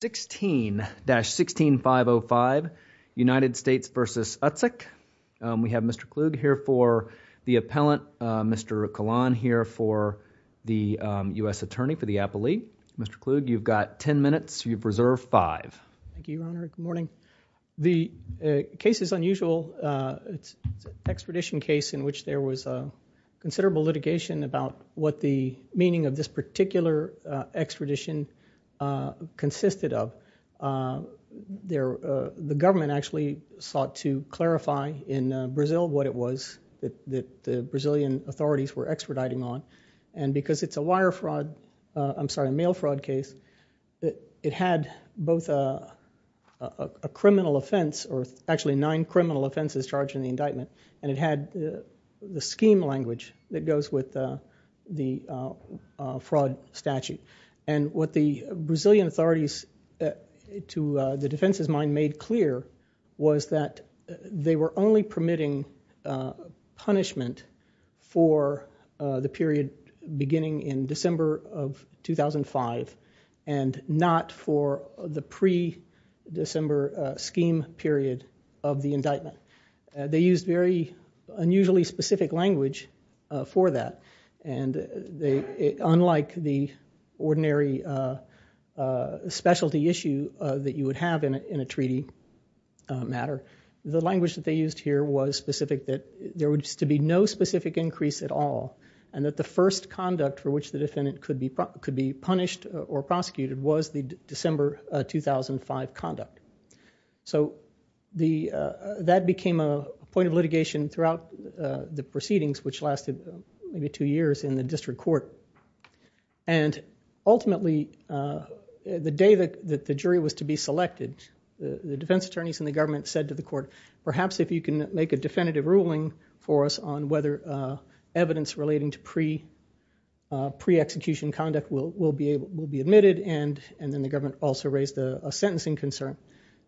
16-16505, United States v. Utsick. We have Mr. Kluge here for the appellant, Mr. Kalan here for the U.S. Attorney for the Appellee. Mr. Kluge, you've got ten minutes. You've reserved five. Thank you, Your Honor. Good morning. The case is unusual. It's an extradition case in which there was considerable litigation about what the meaning of this particular extradition consisted of. The government actually sought to clarify in Brazil what it was that the Brazilian authorities were extraditing on. And because it's a wire fraud, I'm sorry, a mail fraud case, it had both a criminal offense, or actually nine criminal offenses charged in the indictment, and it had the scheme language that goes with the fraud statute. And what the Brazilian authorities, to the defense's mind, made clear was that they were only permitting punishment for the period beginning in December of 2005 and not for the pre-December scheme period of the indictment. They used very unusually specific language for that. And unlike the ordinary specialty issue that you would have in a treaty matter, the language that they used here was specific that there was to be no specific increase at all, and that the first conduct for which the defendant could be punished or prosecuted was the December 2005 conduct. So that became a point of litigation throughout the proceedings which lasted maybe two years in the district court. And ultimately, the day that the jury was to be selected, the defense attorneys and the government said to the court, perhaps if you can make a definitive ruling for us on whether evidence relating to pre-execution conduct will be admitted, and then the government also raised a sentencing concern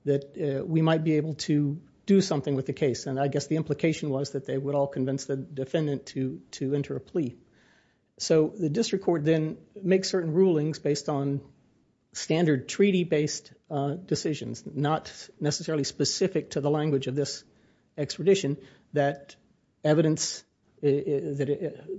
that we might be able to do something with the case. And I guess the implication was that they would all convince the defendant to enter a plea. So the district court then makes certain rulings based on standard treaty-based decisions, not necessarily specific to the language of this extradition, that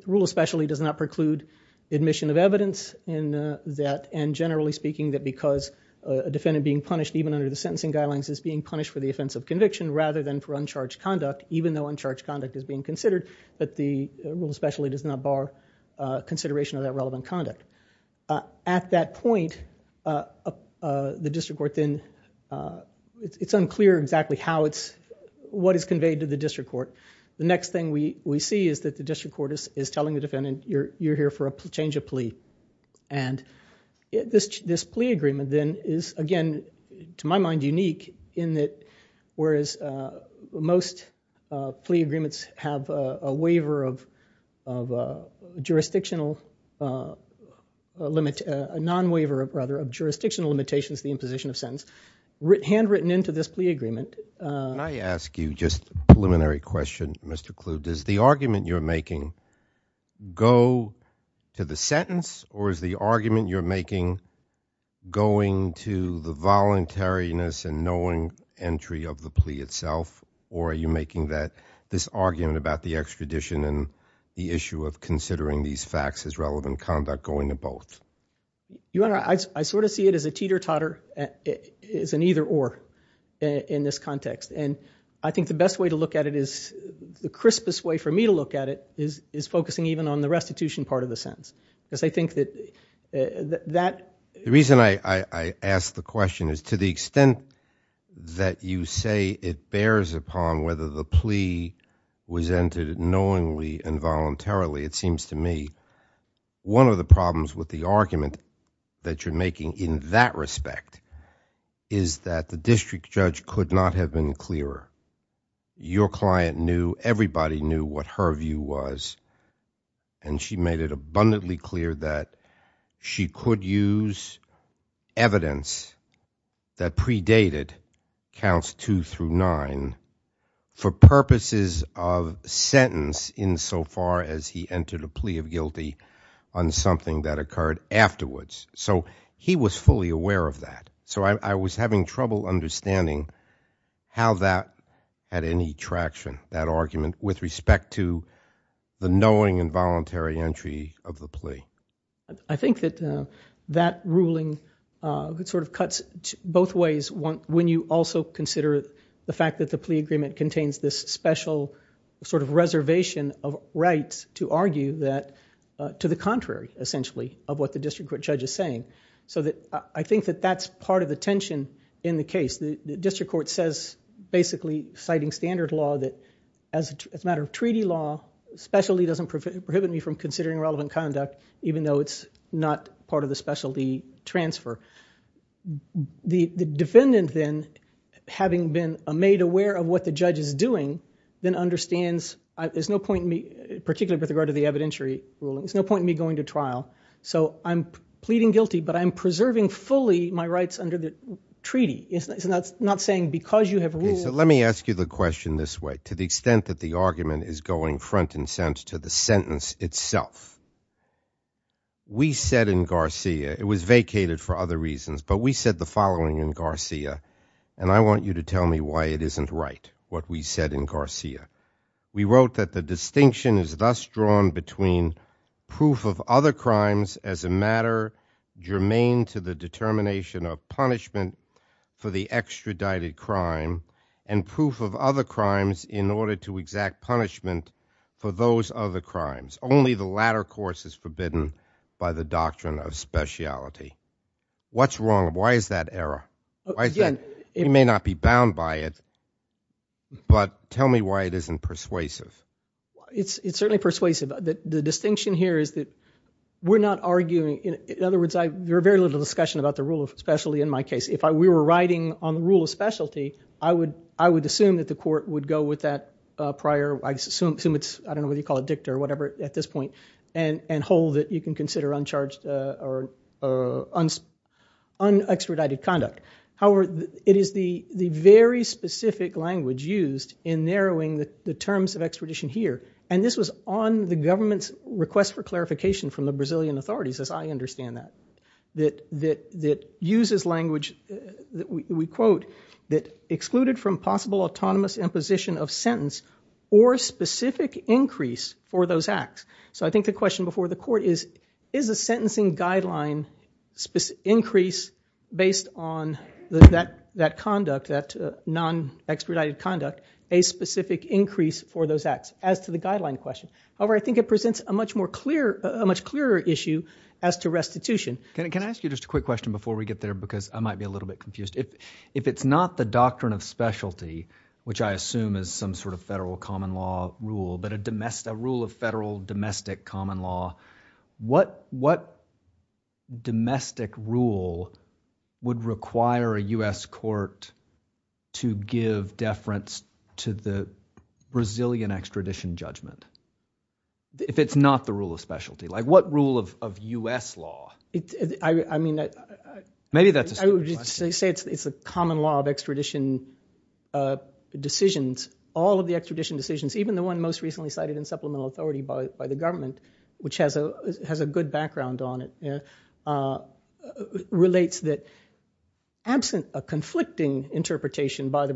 rule especially does not preclude admission of evidence, and generally speaking that because a defendant being punished even under the sentencing guidelines is being punished for the offense of conviction rather than for uncharged conduct, even though uncharged conduct is being considered, that the rule especially does not bar consideration of that relevant conduct. At that point, the district court then, it's unclear exactly how it's, what is conveyed to the district court. The next thing we see is that the district court is telling the defendant you're here for a change of plea. And this plea agreement then is again, to my mind, unique in that whereas most plea agreements have a waiver of jurisdictional limit, a non-waiver of rather, of jurisdictional limitations, the imposition of sentence handwritten into this plea agreement. Can I ask you just a preliminary question, Mr. Kluge? Does the to the voluntariness and knowing entry of the plea itself, or are you making that, this argument about the extradition and the issue of considering these facts as relevant conduct going to both? Your Honor, I sort of see it as a teeter-totter, as an either-or in this context. And I think the best way to look at it is, the crispest way for me to look at it is focusing even on the restitution part of the sentence. Because I think that The reason I ask the question is to the extent that you say it bears upon whether the plea was entered knowingly and voluntarily, it seems to me one of the problems with the argument that you're making in that respect is that the district judge could not have been clearer. Your client knew, everybody knew what her view was, and she made it abundantly clear that she could use evidence that predated counts two through nine for purposes of sentence insofar as he entered a plea of guilty on something that occurred afterwards. So he was fully aware of that. So I was having trouble understanding how that had any traction, that I think that that ruling cuts both ways when you also consider the fact that the plea agreement contains this special reservation of rights to argue that to the contrary, essentially, of what the district court judge is saying. So I think that that's part of the tension in the case. The district court says, basically citing standard law, that as a matter of treaty law, specialty doesn't prohibit me from considering relevant conduct, even though it's not part of the specialty transfer. The defendant then, having been made aware of what the judge is doing, then understands, there's no point in me, particularly with regard to the evidentiary ruling, there's no point in me going to trial. So I'm pleading guilty, but I'm preserving fully my rights under the treaty. It's not saying because you have ruled. Let me ask you the question this way, to the extent that the argument is going front and center to the sentence itself. We said in Garcia, it was vacated for other reasons, but we said the following in Garcia, and I want you to tell me why it isn't right, what we said in Garcia. We wrote that the distinction is thus drawn between proof of other crimes as a matter germane to the determination of punishment for the extradited crime, and proof of other crimes in order to exact punishment for those other crimes. Only the latter course is forbidden by the doctrine of speciality. What's wrong? Why is that error? We may not be bound by it, but tell me why it isn't persuasive. It's certainly persuasive. The distinction here is that we're not arguing, in other words, there are very little discussion about the rule of specialty in my case. If we were writing on the rule of specialty, I would assume that the court would go with that prior, I don't know whether you call it dicta or whatever at this point, and hold that you can consider uncharged or unextradited conduct. However, it is the very specific language used in narrowing the terms of extradition here, and this was on the government's request for clarification from the Brazilian authorities, as I understand that, that uses language that we quote, that excluded from possible autonomous imposition of sentence or specific increase for those acts. So I think the question before the court is, is a sentencing guideline increase based on that conduct, that non-extradited conduct, a specific increase for those acts as to the guideline question. However, I think it presents a much clearer issue as to restitution. Can I ask you just a quick question before we get there, because I might be a little bit confused. If it's not the doctrine of specialty, which I assume is some sort of federal common law rule, but a rule of federal domestic common law, what domestic rule would require a U.S. court to give deference to the Brazilian extradition judgment? If it's not the rule of specialty, like what rule of U.S. law? Maybe that's a stupid question. It's a common law of extradition decisions. All of the extradition decisions, even the one most recently cited in supplemental authority by the government, which has a good background on it, relates that absent a conflicting interpretation by the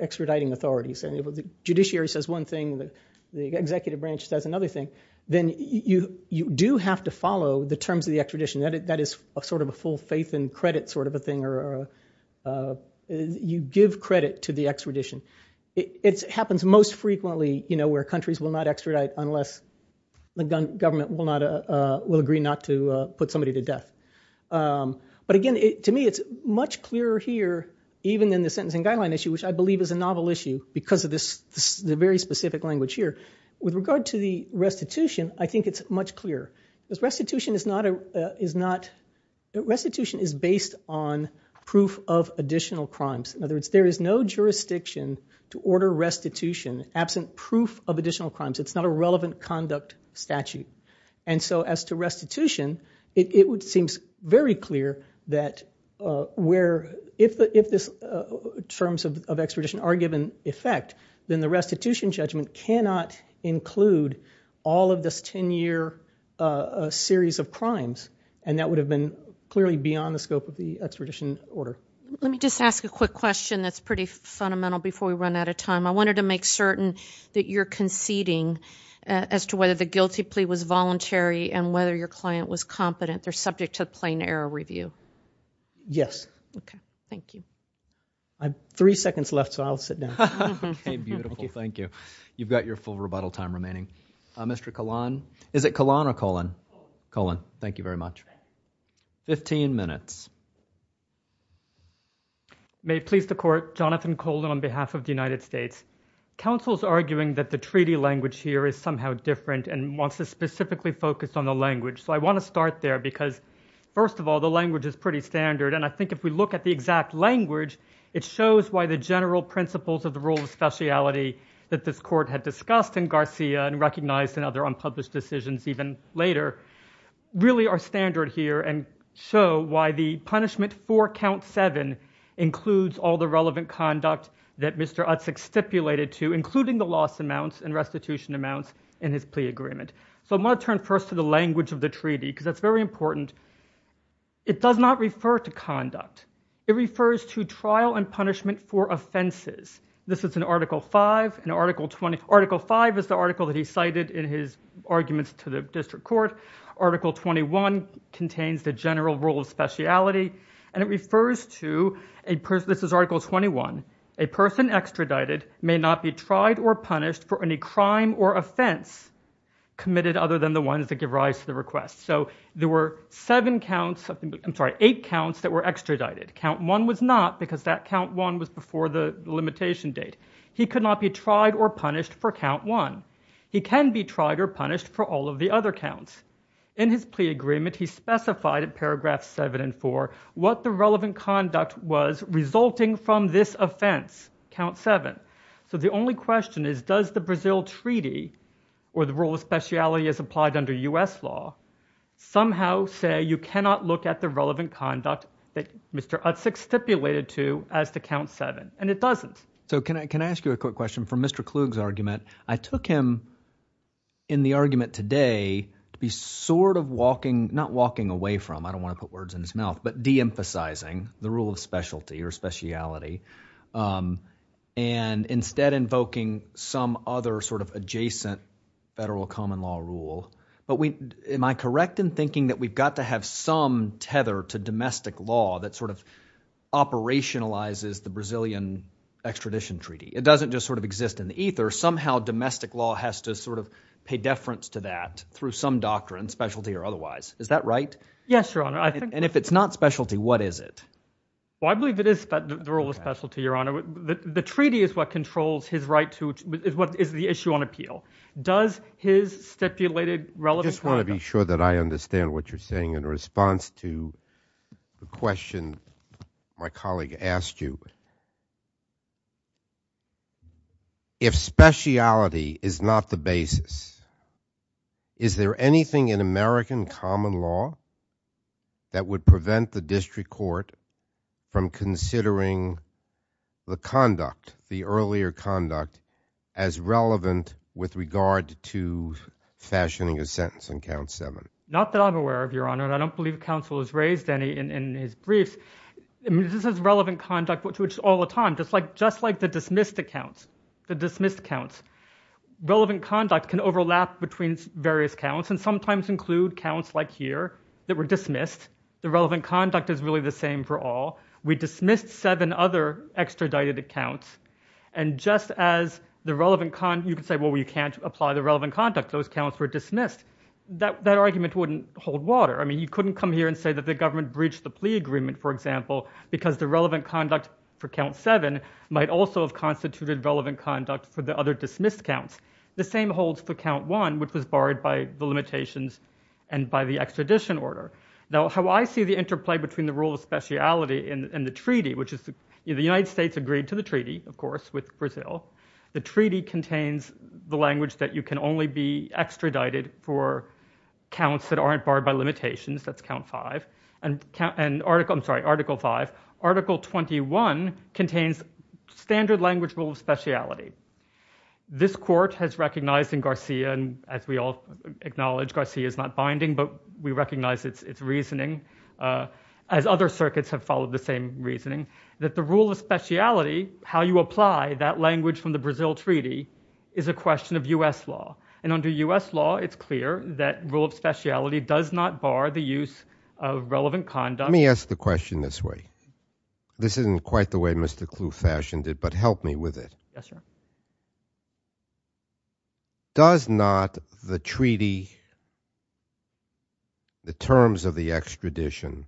extraditing authorities, and the judiciary says one thing, the executive branch says another thing, then you do have to follow the terms of the extradition. That is sort of a full faith and credit sort of a thing. You give credit to the extradition. It happens most frequently where countries will not extradite unless the government will agree not to put somebody to death. Again, to me, it's much clearer here, even in the sentencing guideline issue, which I believe is a novel issue because of the very specific language here. With regard to the restitution, I think it's much clearer. Restitution is based on proof of additional crimes. In other words, there is no jurisdiction to order restitution absent proof of additional crimes. It's not a relevant conduct statute. As to restitution, it seems very clear that if the terms of extradition are given effect, then the restitution judgment cannot include all of this 10-year series of crimes. That would have been clearly beyond the scope of the extradition order. Let me just ask a quick question that's pretty fundamental before we run out of time. I wanted to make certain that you're conceding as to whether the guilty plea was voluntary and whether your client was competent. They're subject to a plain error review. Yes. Okay. Thank you. Three seconds left, so I'll sit down. Okay. Beautiful. Thank you. You've got your full rebuttal time remaining. Mr. Kahlon? Is it Kahlon or Cullen? Kullen. Thank you very much. Fifteen minutes. May it please the Court, Jonathan Kahlon on behalf of the United States. Council is arguing that the treaty language here is somehow different and wants to specifically focus on the language, so I want to start there because, first of all, the language is pretty standard, and I think if we look at the exact language, it shows why the general principles of the rule of speciality that this Court had discussed in Garcia and recognized in other unpublished decisions even later, really are standard here and show why the punishment for count seven includes all the relevant conduct that Mr. Utzick stipulated to, including the loss amounts and restitution amounts in his plea agreement. So I'm going to turn first to the language of the treaty because that's very important. It does not refer to conduct. It refers to trial and punishment for offenses. This is Article 5. Article 5 is the article that he cited in his arguments to the District Court. Article 21 contains the general rule of speciality, and it refers to, this is Article 21, a person extradited may not be tried or punished for any crime or offense committed other than the ones that give rise to the request. So there were seven counts, I'm sorry, eight counts that were extradited. Count one was not because that count one was before the limitation date. He could not be tried or punished for count one. He can be tried or punished for all of the other counts. In his plea agreement, he specified in paragraphs seven and four what the relevant conduct was resulting from this offense, count seven. So the only question is, does the Brazil treaty or the rule of speciality as applied under U.S. law somehow say you cannot look at the relevant conduct that Mr. Utzick stipulated to as to count seven? And it doesn't. So can I ask you a quick question? From Mr. Klug's argument, I took him in the argument today to be sort of walking, not walking away from, I don't want to put words in his mouth, but deemphasizing the rule of specialty or speciality, and instead invoking some other sort of adjacent federal common law rule. But am I correct in thinking that we've got to have some tether to domestic law that sort of operationalizes the Brazilian extradition treaty? It doesn't just sort of exist in the ether. Somehow domestic law has to sort of pay deference to that through some doctrine, specialty or otherwise. Is that right? Yes, Your Honor. And if it's not specialty, what is it? Well, I believe it is the rule of specialty, Your Honor. The treaty is what controls his right to, is the issue on appeal. Does his stipulated relevant conduct— I just want to be sure that I understand what you're saying in response to the question my colleague asked you. If speciality is not the basis, is there anything in American common law that would prevent the district court from considering the conduct, the earlier conduct, as relevant with regard to fashioning a sentence on count seven? Not that I'm aware of, Your Honor, and I don't believe counsel has raised any in his briefs. This is relevant conduct, which all the time, just like the dismissed accounts, the dismissed accounts. Relevant conduct can overlap between various counts and sometimes include counts like here that were dismissed. The relevant conduct is really the same for all. We dismissed seven other extradited accounts, and just as the relevant—you can say, well, we can't apply the relevant conduct. Those counts were dismissed. That argument wouldn't hold water. I mean, you couldn't come here and say that the government breached the plea agreement, for example, because the relevant conduct for count seven might also have constituted relevant conduct for the other dismissed counts. The same holds for count one, which was barred by the limitations and by the extradition order. Now, how I see the interplay between the rule of speciality and the treaty, which is the United States agreed to the treaty, of course, with Brazil. The treaty contains the language that you can only be extradited for counts that aren't barred by limitations. That's count five. And article—I'm sorry, article five. Article 21 contains standard language rule of speciality. This court has recognized in Garcia, and as we all acknowledge, Garcia is not binding, but we recognize its reasoning, as other circuits have followed the same reasoning, that the rule of speciality, how you apply that language from the Brazil treaty, is a question of U.S. law. And under U.S. law, it's clear that rule of speciality does not bar the use of relevant conduct. Let me ask the question this way. This isn't quite the way Mr. Clu fashioned it, but help me with it. Does not the treaty, the terms of the extradition,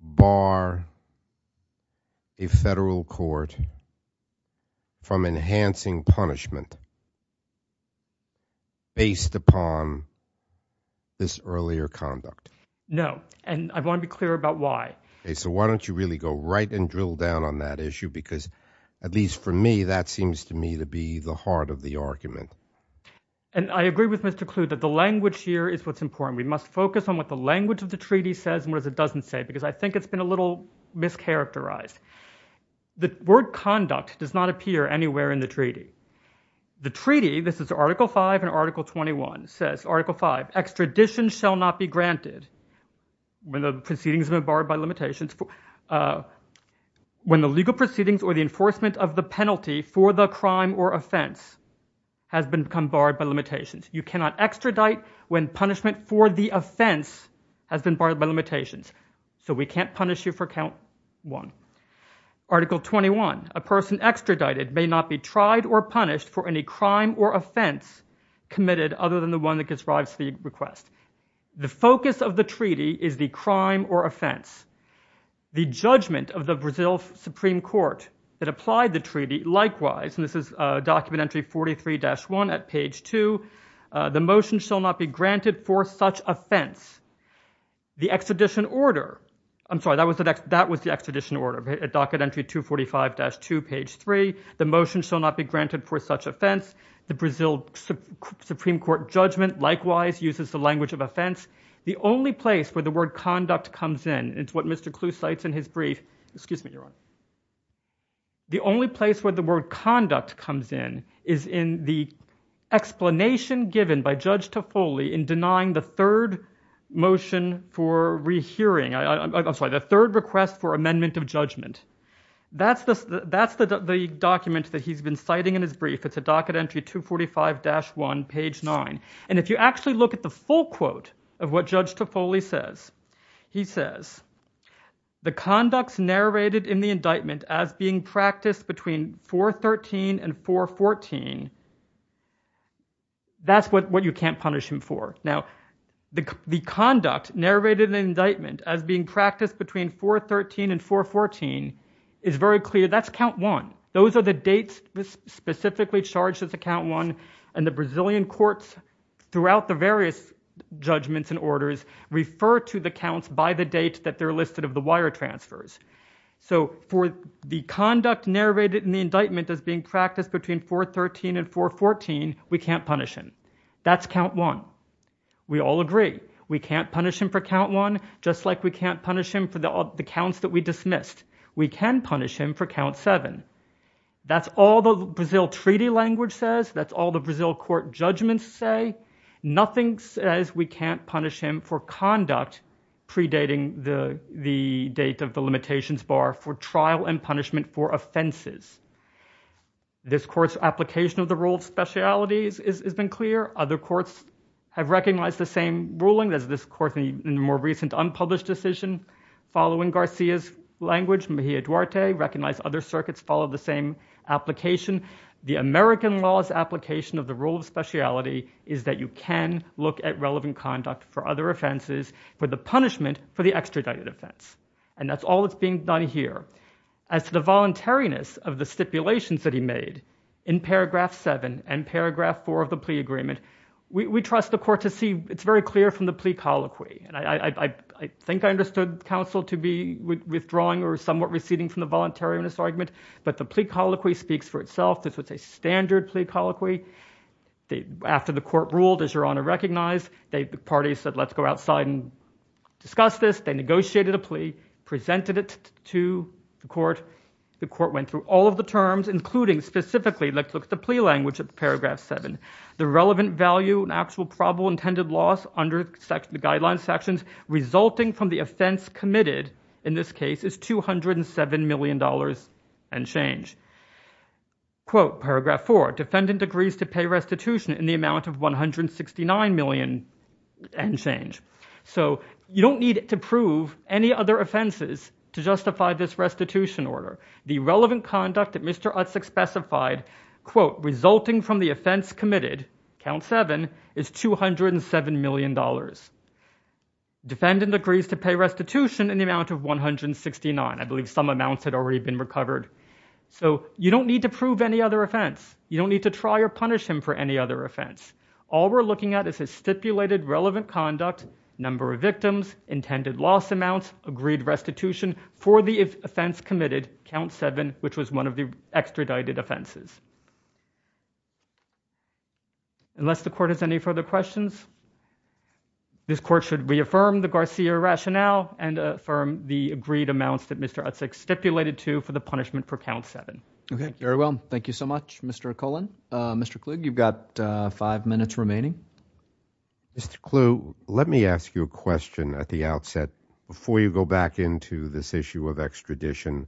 bar a federal court from enhancing punishment based upon this earlier conduct? No, and I want to be clear about why. Okay, so why don't you really go right and drill down on that issue, because at least for me, that seems to me to be the heart of the argument. And I agree with Mr. Clu that the language here is what's important. We must focus on what the language of the treaty says and what it doesn't say, because I think it's been a little mischaracterized. The word conduct does not appear anywhere in the treaty. The treaty—this is article five and article 21—says, article five, extradition shall not be granted when the legal proceedings or the enforcement of the penalty for the crime or offense has become barred by limitations. You cannot extradite when punishment for the offense has been barred by limitations. So we can't punish you for count one. Article 21, a person extradited may not be tried or punished for any crime or offense committed other than the one that describes the request. The focus of the treaty is the crime or offense. The judgment of the Brazil Supreme Court that applied the treaty, likewise—and this is document entry 43-1 at page two—the motion shall not be granted for such offense. The extradition order—I'm sorry, that was the extradition order, docket entry 245-2, page three—the motion shall not be granted for such offense. The Brazil Supreme Court judgment, likewise, uses the language of offense. The only place where the word conduct comes in—it's what Mr. Clue cites in his brief—excuse me, Your Honor—the only place where the word conduct comes in is in the explanation given by Judge Toffoli in denying the third motion for rehearing—I'm sorry, the third request for amendment of judgment. That's the document that he's been citing in his brief. It's at docket entry 245-1, page nine. And if you actually look at the full quote of what Judge Toffoli says, he says, the conduct narrated in the indictment as being practiced between 413 and 414, that's what you can't punish him for. Now, the conduct narrated in the indictment as being practiced—that's count one. Those are the dates specifically charged as a count one, and the Brazilian courts throughout the various judgments and orders refer to the counts by the date that they're listed of the wire transfers. So for the conduct narrated in the indictment as being practiced between 413 and 414, we can't punish him. That's count one. We all agree. We can't punish him for count one, just like we can't punish him for the counts that we dismissed. We can punish him for count seven. That's all the Brazil treaty language says. That's all the Brazil court judgments say. Nothing says we can't punish him for conduct predating the date of the limitations bar for trial and punishment for offenses. This court's application of the rule of specialities has been clear. Other courts have recognized the same ruling as this court in the more recent unpublished decision. Following Garcia's language, Mejia Duarte recognized other circuits follow the same application. The American law's application of the rule of speciality is that you can look at relevant conduct for other offenses for the punishment for the extradited offense. And that's all that's being done here. As to the voluntariness of the stipulations that he made in paragraph seven and paragraph four of the plea agreement, we trust the court to see—it's very clear from the plea colloquy. I think I understood counsel to be withdrawing or somewhat receding from the voluntariness argument, but the plea colloquy speaks for itself. This was a standard plea colloquy. After the court ruled, as Your Honor recognized, the parties said, let's go outside and discuss this. They negotiated a plea, presented it to the court. The court went through all of the terms, including specifically—let's look at the plea language of paragraph seven. The relevant value and actual probable intended loss under the guideline sections resulting from the offense committed in this case is $207 million and change. Quote, paragraph four, defendant agrees to pay restitution in the amount of $169 million and change. So you don't need to prove any other offenses to justify this restitution order. The relevant conduct that Mr. Utsak specified, quote, resulting from the offense committed, count seven, is $207 million. Defendant agrees to pay restitution in the amount of $169 million. I believe some amounts had already been recovered. So you don't need to prove any other offense. You don't need to try or punish him for any other offense. All we're looking at is his stipulated relevant conduct, number of victims, intended loss amounts, agreed restitution for the offense committed, count seven, which was one of the offenses. Unless the court has any further questions, this court should reaffirm the Garcia rationale and affirm the agreed amounts that Mr. Utsak stipulated to for the punishment for count seven. Okay. Very well. Thank you so much, Mr. Colon. Mr. Kluge, you've got five minutes remaining. Mr. Kluge, let me ask you a question at the outset before you go back into this issue of extradition.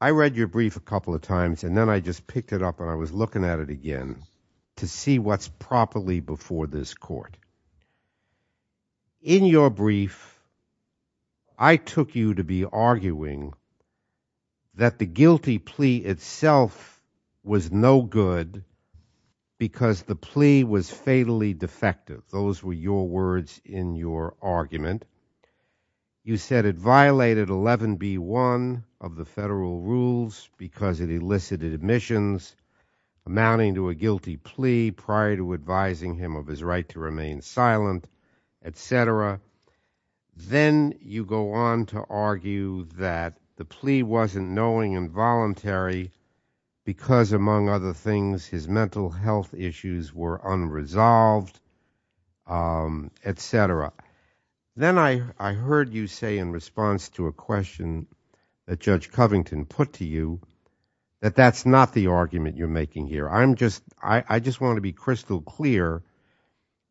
I read your brief a couple of times and then I just picked it up and I was looking at it again to see what's properly before this court. In your brief, I took you to be arguing that the guilty plea itself was no good because the plea was fatally defective. Those were your words in your argument. You said it violated 11B1 of the federal rules because it elicited admissions amounting to a guilty plea prior to advising him of his right to remain silent, et cetera. Then you go on to argue that the plea wasn't knowing and voluntary because, among other things, his mental health issues were unresolved, et cetera. Then I heard you say in response to a question that Judge Covington put to you that that's not the argument you're making here. I just want to be crystal clear.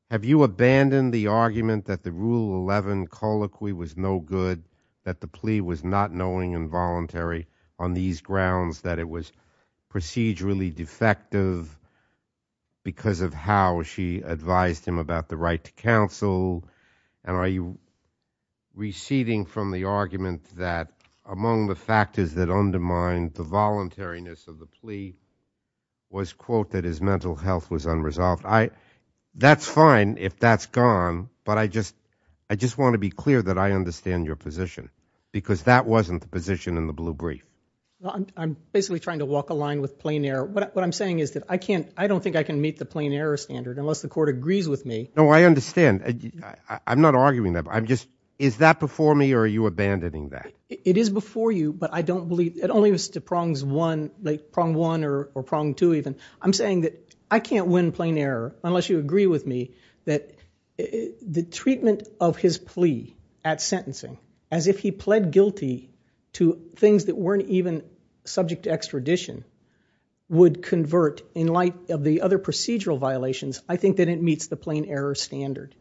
Have you abandoned the argument that the Rule 11 colloquy was no good, that the plea was not knowing and voluntary on these grounds, that it was procedurally defective because of how she advised him about the right to counsel? Are you receding from the argument that among the factors that undermine the voluntariness of the plea was, quote, that his mental health was unresolved? That's fine if that's gone, but I just want to be clear that I understand your position because that wasn't the position in the blue brief. I'm basically trying to walk a line with plain error. What I'm saying is that I can't, I don't think I can meet the plain error standard unless the court agrees with me. No, I understand. I'm not arguing that. I'm just, is that before me or are you abandoning that? It is before you, but I don't believe, it only was to prongs one, like prong one or prong two even. I'm saying that I can't win plain error unless you agree with me that the treatment of his plea at sentencing as if he pled guilty to things that weren't even subject to extradition would convert in light of the other procedural violations. I think that it meets the plain error standard.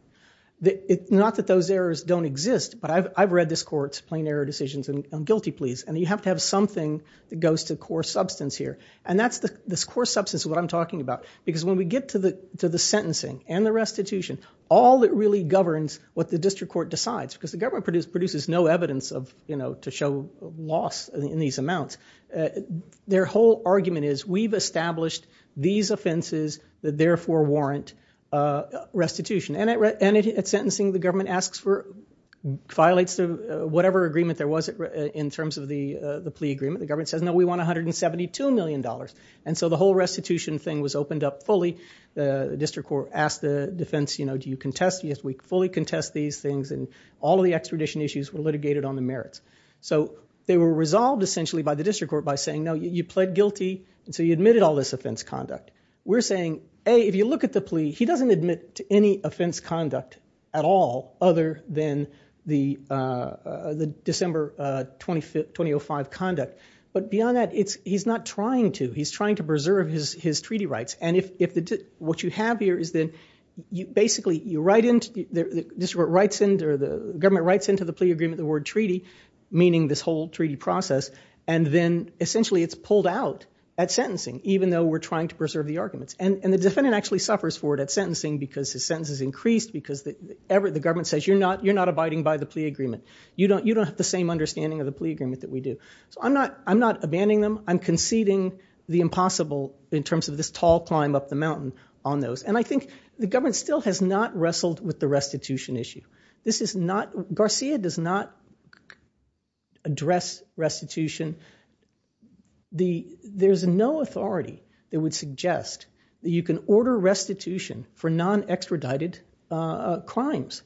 Not that those errors don't exist, but I've read this court's plain error decisions and guilty pleas and you have to have something that goes to core substance here and that's the core substance of what I'm talking about because when we get to the sentencing and the restitution, all that really governs what the district court decides because the government produces no evidence of, you know, to show loss in these amounts. Their whole argument is we've established these offenses that therefore warrant restitution and at sentencing the government asks for, violates whatever agreement there was in terms of the plea agreement. The government says no we want 172 million dollars and so the whole restitution thing was opened up fully. The district court asked the defense, you know, do you contest, yes we fully contest these things and all the extradition issues were litigated on the merits. So they were resolved essentially by the district court by saying no you pled guilty and so you admitted all this offense conduct. We're saying A, if you look at the plea he doesn't admit to any offense conduct at all other than the December 2005 conduct, but beyond that he's not trying to. He's trying to preserve his then you basically you write into the district court writes into or the government writes into the plea agreement the word treaty meaning this whole treaty process and then essentially it's pulled out at sentencing even though we're trying to preserve the arguments and the defendant actually suffers for it at sentencing because his sentence is increased because the government says you're not abiding by the plea agreement. You don't have the same understanding of the plea agreement that we do. So I'm not abandoning them. I'm conceding the impossible in terms of this tall climb up the mountain on those and I think the government still has not wrestled with the restitution issue. This is not, Garcia does not address restitution. There's no authority that would suggest that you can order restitution for non-extradited crimes.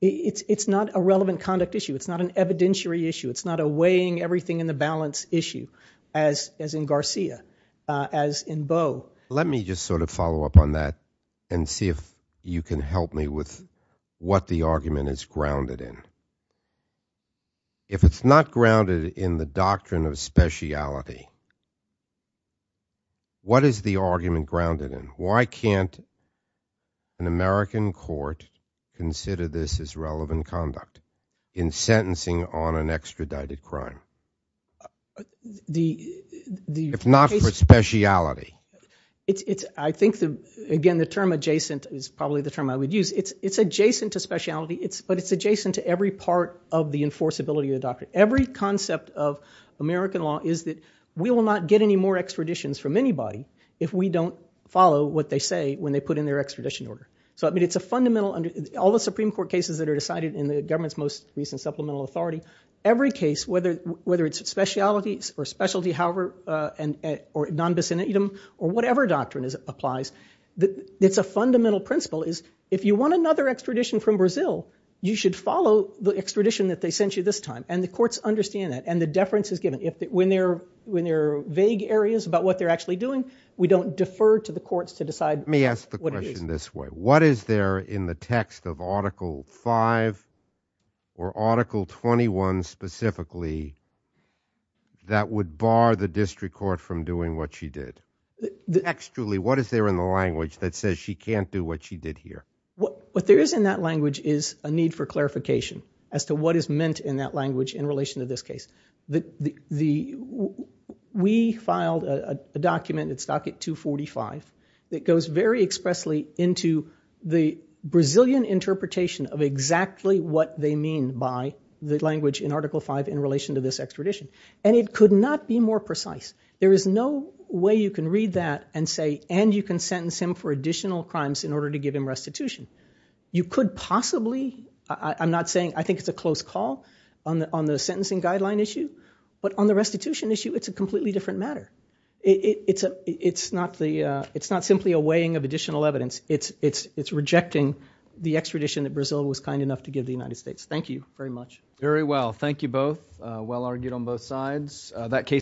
It's not a relevant conduct issue. It's not an evidentiary issue. It's not a weighing everything in the balance issue as in Garcia, as in Bo. Let me just sort of follow up on that and see if you can help me with what the argument is grounded in. If it's not grounded in the doctrine of speciality, what is the argument grounded in? Why can't an American court consider this as relevant conduct in sentencing on an extradited crime? If not for speciality. I think again the term adjacent is probably the term I would use. It's adjacent to speciality, but it's adjacent to every part of the enforceability of the doctrine. Every concept of American law is that we will not get any more extraditions from anybody if we don't follow what they say when they put in their extradition order. So I mean it's a fundamental, all the Supreme Court cases that are decided in the government's most recent supplemental authority, every case whether it's speciality or non-basinitum or whatever doctrine applies, it's a fundamental principle is if you want another extradition from Brazil, you should follow the extradition that they sent you this time. And the courts understand that. And the deference is given. When there are vague areas about what they're actually doing, we don't defer to the courts to decide. Let me ask the question this way. What is there in the text of article 5 or article 21 specifically that would bar the district court from doing what she did? Textually, what is there in the language that says she can't do what she did here? What there is in that language is a need for clarification as to what is meant in that language in relation to this case. We filed a document, it's docket 245, that goes very expressly into the Brazilian interpretation of exactly what they mean by the language in article 5 in relation to this extradition. And it could not be more precise. There is no way you can read that and say, and you can sentence him for additional crimes in order to give him restitution. You could possibly, I'm not saying, I think it's a close call on the sentencing guideline issue, but on the restitution issue, it's a completely different matter. It's not simply a weighing of additional evidence, it's rejecting the extradition that Brazil was kind enough to give the United States. Thank you very much. Very well, thank you both. Well argued on both sides.